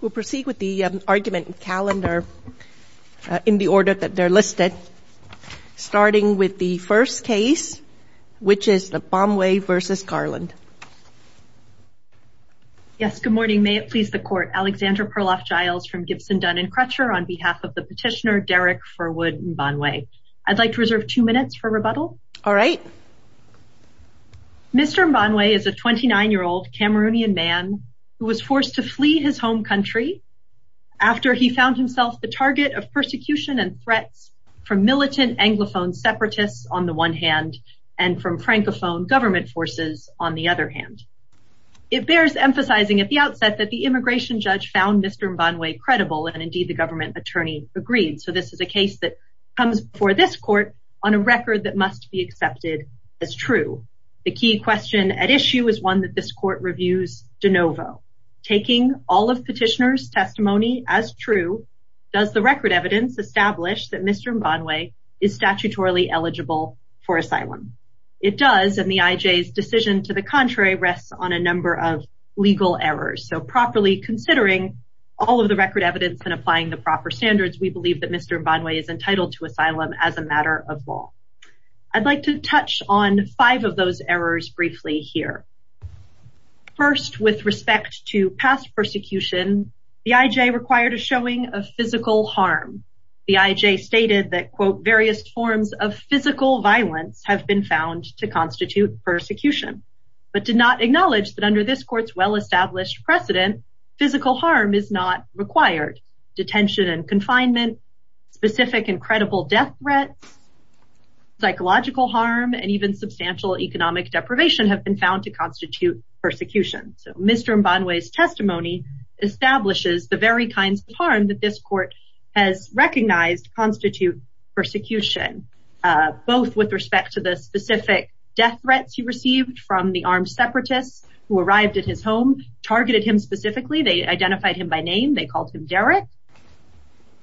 We'll proceed with the argument in calendar in the order that they're listed, starting with the first case, which is the Mbanwei v. Garland. Yes, good morning. May it please the court, Alexandra Perloff-Giles from Gibson, Dunn and Crutcher on behalf of the petitioner Derick Furwood Mbanwei. I'd like to reserve two minutes for rebuttal. All right. Mr. Mbanwei is a 29-year-old Cameroonian man who was forced to flee his home country after he found himself the target of persecution and threats from militant Anglophone separatists on the one hand and from Francophone government forces on the other hand. It bears emphasizing at the outset that the immigration judge found Mr. Mbanwei credible and indeed the government attorney agreed. So this is a case that comes before this court on a record that must be accepted as true. The key question at issue is one that this court reviews de novo. Taking all of petitioner's testimony as true, does the record evidence establish that Mr. Mbanwei is statutorily eligible for asylum? It does and the IJ's decision to the contrary rests on a number of legal errors. So properly considering all of the record evidence and applying the proper standards, we believe that Mr. Mbanwei is entitled to asylum as a matter of law. I'd like to touch on five of those errors briefly here. First with respect to past persecution, the IJ required a showing of physical harm. The IJ stated that quote various forms of physical violence have been found to constitute persecution, but did not acknowledge that established precedent, physical harm is not required. Detention and confinement, specific and credible death threats, psychological harm, and even substantial economic deprivation have been found to constitute persecution. So Mr. Mbanwei's testimony establishes the very kinds of harm that this court has recognized constitute persecution, both with respect to the specific death threats he received from the armed separatists who arrived at his home, targeted him specifically, they identified him by name, they called him Derek,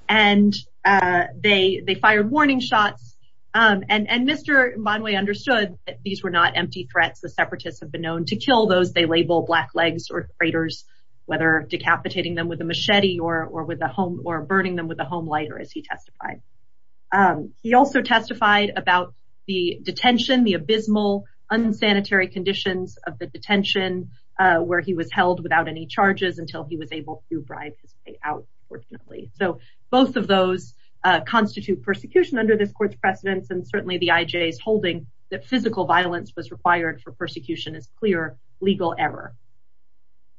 and they fired warning shots. And Mr. Mbanwei understood that these were not empty threats, the separatists have been known to kill those they label black legs or craters, whether decapitating them with a machete or with a home or burning them with a home lighter as he testified. He also testified about the detention, the abysmal, unsanitary conditions of the detention, where he was held without any charges until he was able to bribe his way out, unfortunately. So both of those constitute persecution under this court's precedence, and certainly the IJ's holding that physical violence was required for persecution is clear legal error.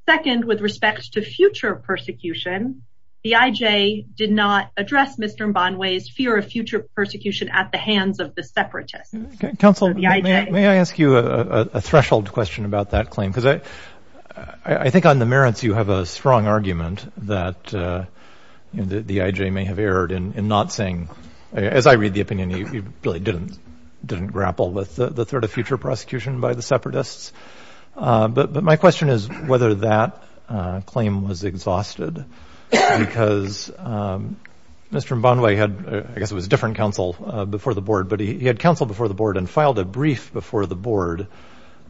Second, with respect to future persecution, the IJ did not address Mr. Mbanwei's fear of future persecution at the hands of the separatists. Counsel, may I ask you a threshold question about that claim? Because I think on the merits, you have a strong argument that the IJ may have erred in not saying, as I read the opinion, he really didn't, didn't grapple with the threat of future prosecution by the separatists. But my question is whether that claim was exhausted, because Mr. Mbanwei had, I guess it was different counsel before the board, but he had counsel before the board and filed a brief before the board.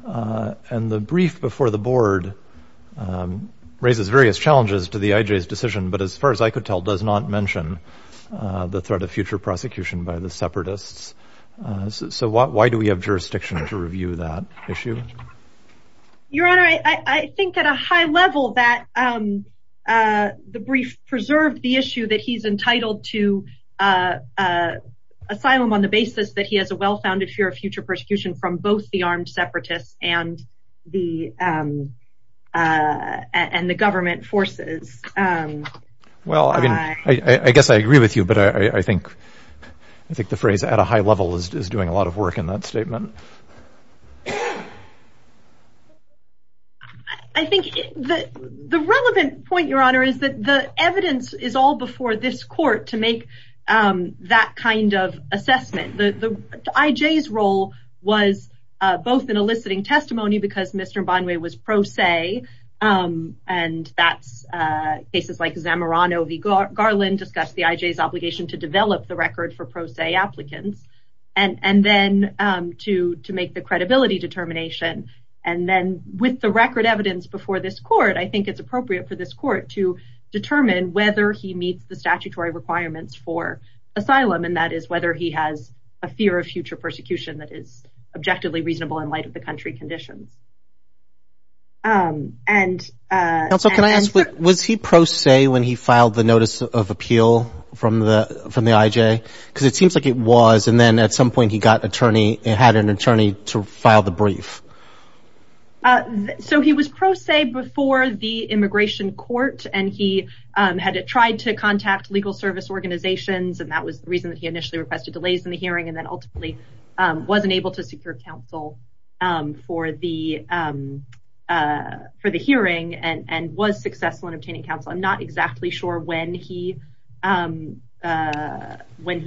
And the brief before the board raises various challenges to the IJ's decision, but as far as I could tell, does not mention the threat of future prosecution by the separatists. So why do we have jurisdiction to review that issue? Your Honor, I think at a high level that the brief preserved the issue that he's entitled to asylum on the basis that he has a well-founded fear of future persecution from both the armed separatists and the government forces. Well, I mean, I guess I agree with you, but I think I think the phrase at a high level is doing a lot of work in that statement. I think the relevant point, Your Honor, is that the evidence is all before this court to make that kind of assessment. The IJ's role was both in eliciting testimony because Mr. Mbanwei was pro se and that's cases like Zamorano v. Garland discussed the IJ's obligation to develop the credibility determination. And then with the record evidence before this court, I think it's appropriate for this court to determine whether he meets the statutory requirements for asylum, and that is whether he has a fear of future persecution that is objectively reasonable in light of the country conditions. Also, can I ask, was he pro se when he filed the notice of appeal from the IJ? Because it seems like it was, and then at some point he got and had an attorney to file the brief. So he was pro se before the immigration court, and he had tried to contact legal service organizations, and that was the reason that he initially requested delays in the hearing, and then ultimately wasn't able to secure counsel for the hearing and was successful in obtaining counsel. I'm not exactly sure when he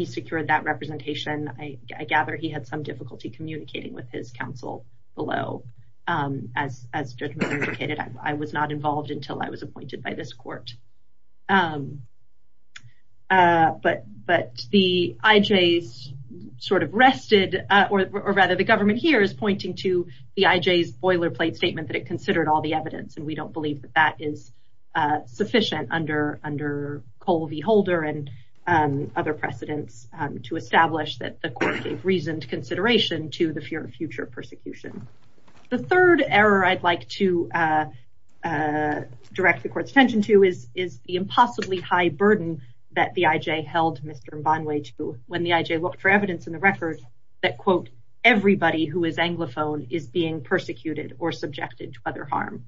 secured that representation. I gather he had some difficulty communicating with his counsel below. As Judge Miller indicated, I was not involved until I was appointed by this court. But the IJ's sort of rested, or rather the government here is pointing to the IJ's boilerplate statement that it considered all the evidence, and we don't believe that that is other precedence to establish that the court gave reasoned consideration to the fear of future persecution. The third error I'd like to direct the court's attention to is the impossibly high burden that the IJ held Mr. Mbanwe to when the IJ looked for evidence in the record that, quote, everybody who is Anglophone is being persecuted or subjected to other harm.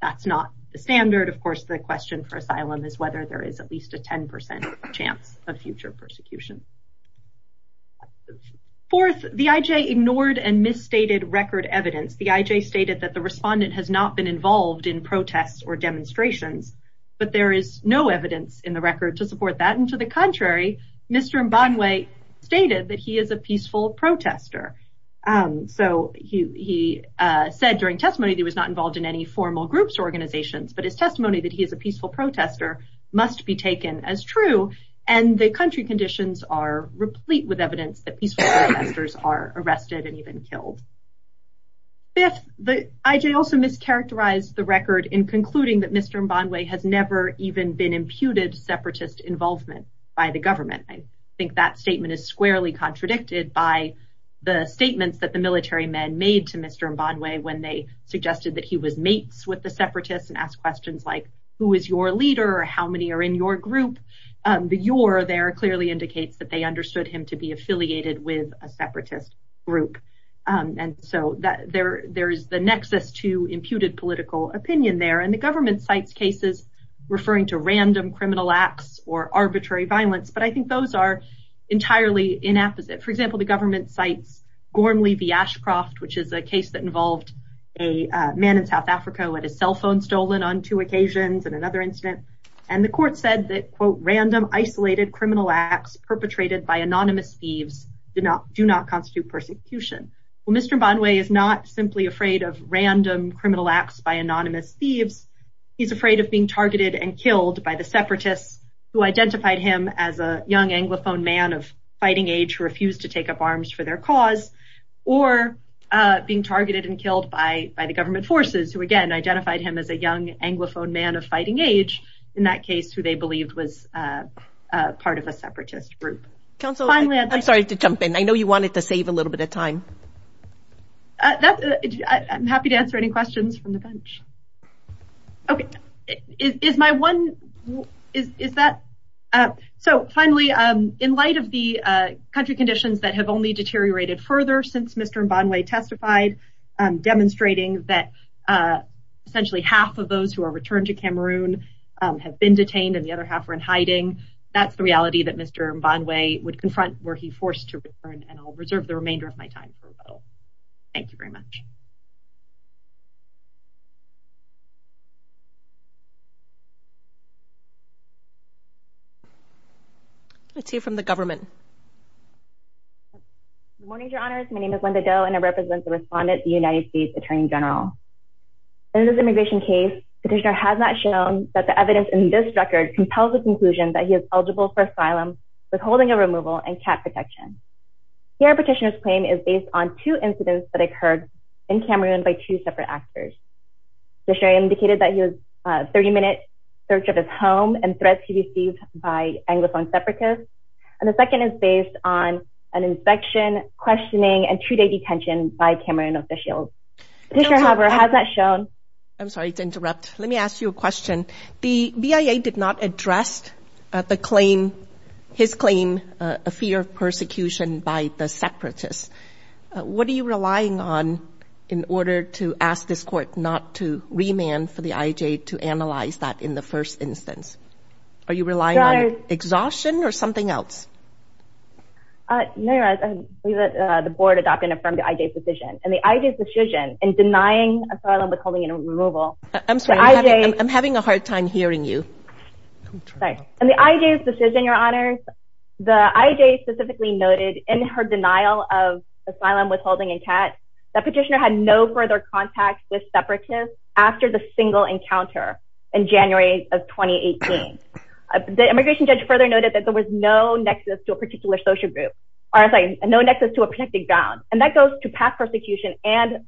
That's not the future persecution. Fourth, the IJ ignored and misstated record evidence. The IJ stated that the respondent has not been involved in protests or demonstrations, but there is no evidence in the record to support that, and to the contrary, Mr. Mbanwe stated that he is a peaceful protester. So he said during testimony that he was not involved in any formal groups or organizations, but his testimony that he is a peaceful protester must be taken as true, and the country conditions are replete with evidence that peaceful protesters are arrested and even killed. Fifth, the IJ also mischaracterized the record in concluding that Mr. Mbanwe has never even been imputed separatist involvement by the government. I think that statement is squarely contradicted by the statements that the military men made to Mr. Mbanwe when they suggested that he was mates with the separatists and asked questions like, who is your leader? How many are in your group? The your there clearly indicates that they understood him to be affiliated with a separatist group, and so there is the nexus to imputed political opinion there, and the government cites cases referring to random criminal acts or arbitrary violence, but I think those are entirely inapposite. For example, the government cites Gormley v. Ashcroft, which is a case that had his cell phone stolen on two occasions and another incident, and the court said that, quote, random isolated criminal acts perpetrated by anonymous thieves do not constitute persecution. Well, Mr. Mbanwe is not simply afraid of random criminal acts by anonymous thieves. He's afraid of being targeted and killed by the separatists who identified him as a young Anglophone man of fighting age who refused to take up arms for their cause, or being targeted and killed by the government forces who, again, identified him as a young Anglophone man of fighting age, in that case who they believed was part of a separatist group. I'm sorry to jump in. I know you wanted to save a little bit of time. I'm happy to answer any questions from the bench. So finally, in light of the country conditions that have only deteriorated further since Mr. Mbanwe testified, demonstrating that essentially half of those who are returned to Cameroon have been detained and the other half are in hiding, that's the reality that Mr. Mbanwe would confront were he forced to return, and I'll reserve the remainder of my time. Thank you very much. Let's hear from the government. Good morning, Your Honors. My name is Linda Do and I represent the respondent, the United States Attorney General. In this immigration case, Petitioner has not shown that the evidence in this record compels the conclusion that he is eligible for asylum, withholding of removal, and cat protection. Here, Petitioner's claim is based on two incidents that occurred in Cameroon by two separate actors. Petitioner indicated that he was a 30-minute search of his on an inspection, questioning, and two-day detention by Cameroon officials. I'm sorry to interrupt. Let me ask you a question. The BIA did not address his claim, a fear of persecution by the separatists. What are you relying on in order to ask this court not to remand for the IJ to analyze that in the first instance? Are you relying on exhaustion or something else? The board adopted and affirmed the IJ's decision, and the IJ's decision in denying asylum, withholding, and removal... I'm sorry. I'm having a hard time hearing you. The IJ's decision, Your Honors, the IJ specifically noted in her denial of asylum, withholding, and cat that Petitioner had no further contact with separatists after the single encounter in January of 2018. The immigration judge further noted that there was no nexus to a protected ground, and that goes to past persecution and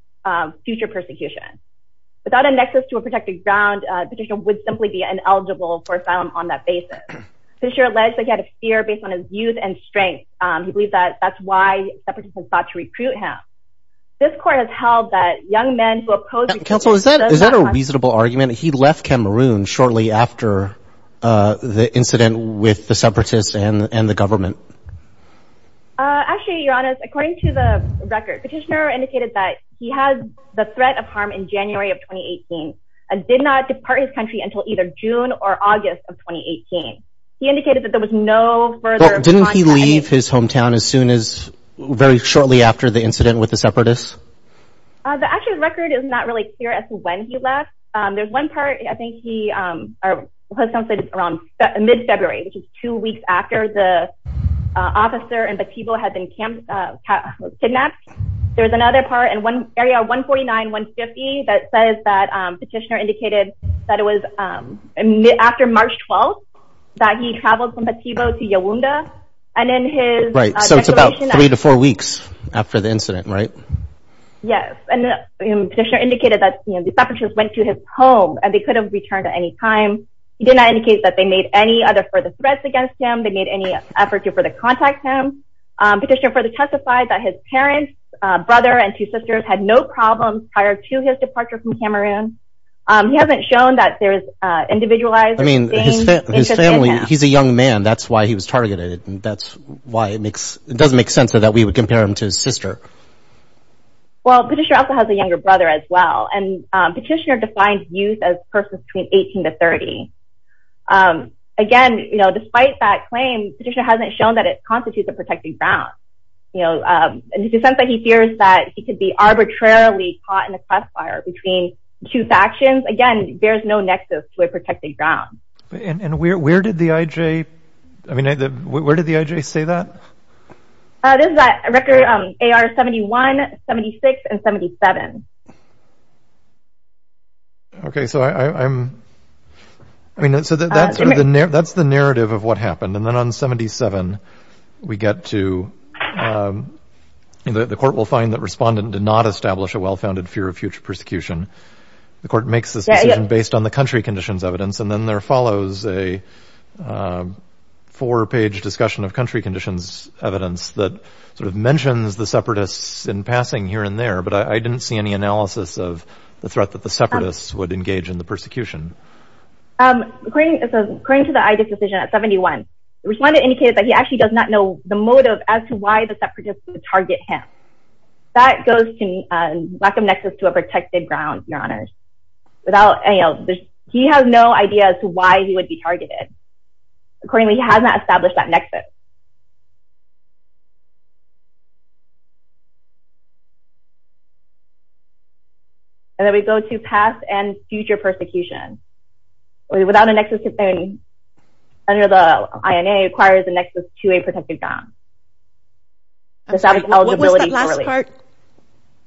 future persecution. Without a nexus to a protected ground, Petitioner would simply be ineligible for asylum on that basis. Petitioner alleged that he had a fear based on his youth and strength. He believes that that's why separatists had sought to recruit him. This court has held that young men who oppose... Counsel, is that a reasonable argument? He left Cameroon shortly after the incident with the separatists and the government? Actually, Your Honors, according to the record, Petitioner indicated that he had the threat of harm in January of 2018, and did not depart his country until either June or August of 2018. He indicated that there was no further... Didn't he leave his hometown as soon as... very shortly after the incident with the separatists? The actual record is not really clear as to when he left. There's one part, I think he... or his hometown is around mid-February, which is two weeks after the officer in Batibo had been kidnapped. There's another part in one area, 149-150, that says that Petitioner indicated that it was after March 12th that he traveled from Batibo to Yawunda, and in his... Right, so it's about three to four weeks after the incident, right? Yes, and Petitioner indicated that the separatists went to his home, and they could have returned at any time. He did not indicate that they made any other further threats against him, they made any effort to further contact him. Petitioner further testified that his parents, brother and two sisters, had no problems prior to his departure from Cameroon. He hasn't shown that there's individualized... I mean, his family... he's a young man, that's why he was targeted, and that's why it makes... Well, Petitioner also has a younger brother as well, and Petitioner defined youth as persons between 18 to 30. Again, you know, despite that claim, Petitioner hasn't shown that it constitutes a protected ground, you know, and the sense that he fears that he could be arbitrarily caught in a crossfire between two factions, again, there's no nexus to a protected ground. And where did the IJ... I mean, where did the IJ say that? This is record AR 71, 76, and 77. Okay, so I'm... I mean, so that's the narrative of what happened, and then on 77, we get to... the court will find that respondent did not establish a well-founded fear of future persecution. The court makes this decision based on the country conditions evidence, and then there follows a four-page discussion of country conditions evidence that sort of mentions the separatists in passing here and there, but I didn't see any analysis of the threat that the separatists would engage in the persecution. According to the IJ decision at 71, the respondent indicated that he actually does not know the motive as to why the separatists would target him. That goes to lack of nexus to a protected ground, your honors. Without any... he has no idea as to why he would be targeted. Accordingly, he has not established that nexus. And then we go to past and future persecution. Without a nexus to... under the INA, it requires a nexus to a protected ground. I'm sorry, what was that last part?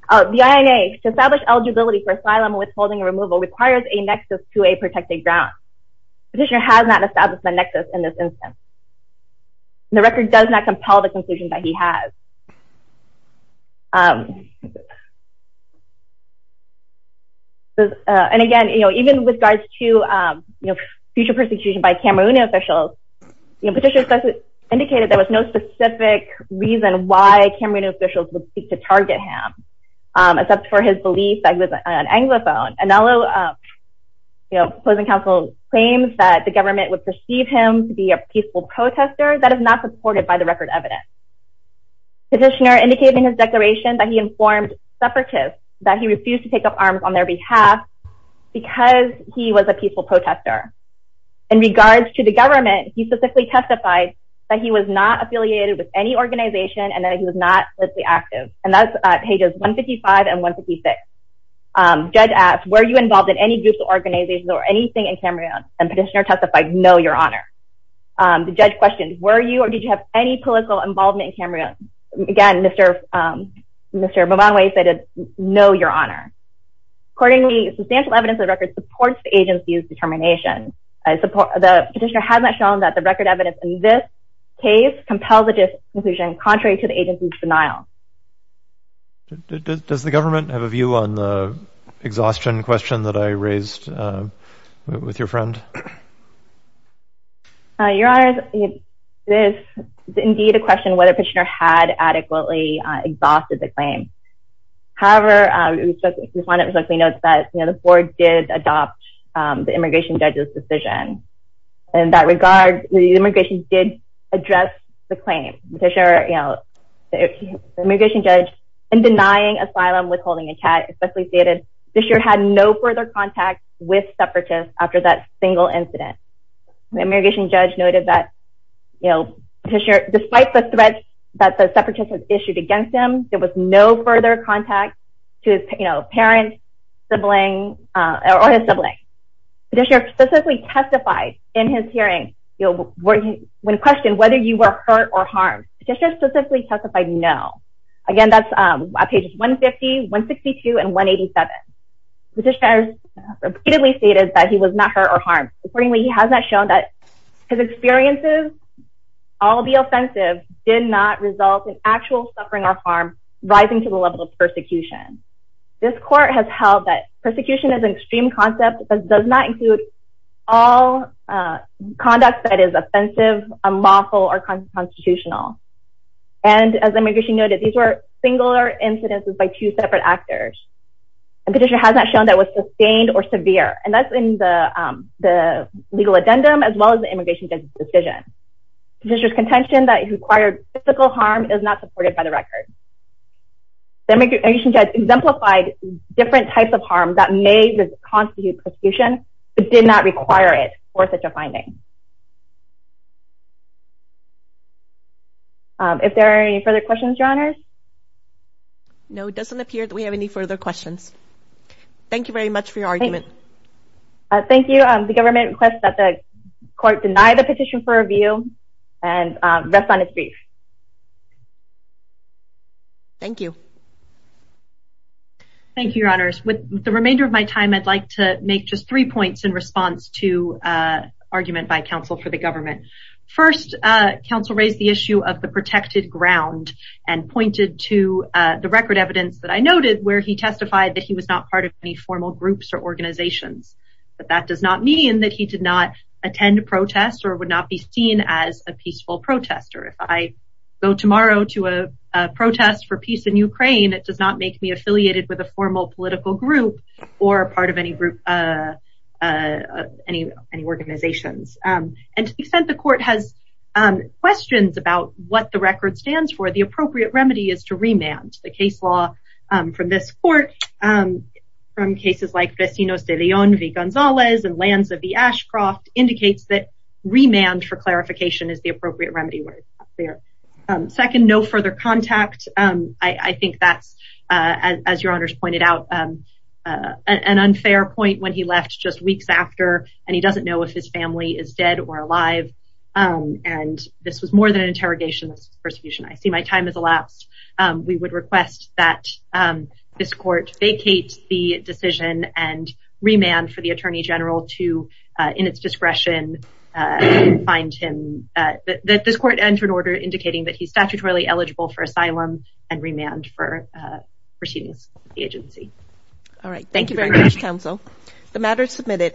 The INA, to establish eligibility for asylum withholding removal requires a nexus to a protected ground. Petitioner has not established the nexus in this instance. The record does not compel the conclusion that he has. And again, you know, even with regards to, you know, future persecution by Cameroonian officials, you know, petitioners indicated there was no specific reason why Cameroonian officials would seek to target him, except for his belief that he was an Anglophone. And although, you know, opposing counsel claims that the government would perceive him to be a peaceful protester, that is not supported by the record evidence. Petitioner indicated in his declaration that he informed separatists that he refused to take up arms on their behalf, because he was a separatist. He specifically testified that he was not affiliated with any organization and that he was not politically active. And that's pages 155 and 156. Judge asked, were you involved in any group's organization or anything in Cameroon? And petitioner testified, no, your honor. The judge questioned, were you or did you have any political involvement in Cameroon? Again, Mr. Movanwe said, no, your honor. Accordingly, substantial evidence of the record supports the agency's determination. The petitioner has not shown that the record evidence in this case compels a disinclusion contrary to the agency's denial. Does the government have a view on the exhaustion question that I raised with your friend? Your honor, this is indeed a question whether Petitioner had adequately exhausted the claim. However, the defendant respectfully notes that, you know, the court did adopt the immigration judge's decision. In that regard, the immigration judge did address the claim. The immigration judge, in denying asylum with holding a cat, respectfully stated, Petitioner had no further contact with separatists after that single incident. The immigration judge noted that, you know, despite the threat that the separatists had issued against him, there was no further contact to his, you know, parent, sibling, or his sibling. Petitioner specifically testified in his hearing, you know, when questioned whether you were hurt or harmed. Petitioner specifically testified, no. Again, that's on pages 150, 162, and 187. Petitioner has repeatedly stated that he was not hurt or harmed. Accordingly, he has not shown that his experiences, albeit offensive, did not result in actual suffering or harm rising to the level of persecution. This court has held that persecution is an extreme concept that does not include all conduct that is offensive, unlawful, or constitutional. And as immigration noted, these were singular incidences by two separate actors. And Petitioner has not shown that it was sustained or severe. And that's in the legal addendum, as well as the immigration judge's decision. Petitioner's contention that he required physical harm is not supported by the record. The immigration judge exemplified different types of harm that may constitute persecution, but did not require it for such a finding. If there are any further questions, Your Honors? No, it doesn't appear that we have any further questions. Thank you very much for your argument. Thank you. The government requests that the court deny the petition for review and rest on its feet. Thank you. Thank you, Your Honors. With the remainder of my time, I'd like to make just three points in response to an argument by counsel for the government. First, counsel raised the issue of the protected ground and pointed to the record evidence that I noted where he testified that he was not part of any formal groups or organizations. But that does not mean that he did not attend protests or would not be seen as a peaceful protester. If I go tomorrow to a protest for peace in Ukraine, it does not make me affiliated with a formal political group or part of any organizations. And to the extent the court has questions about what the record stands for, the appropriate remedy is to remand. The case law from this court, from cases like Vecinos de Leon v. Gonzalez and Lands of the Ashcroft, indicates that remand for clarification is the appropriate remedy where it's not clear. Second, no further contact. I think that's, as Your Honors pointed out, an unfair point when he left just weeks after and he doesn't know if his family is dead or alive. And this was more than an interrogation, this was a persecution. I see my time has elapsed. We would request that this court vacate the decision and remand for the Attorney General to, in its discretion, find him. This court entered order indicating that he's statutorily eligible for asylum and remand for proceedings with the agency. All right, thank you very much, counsel. The matter is submitted.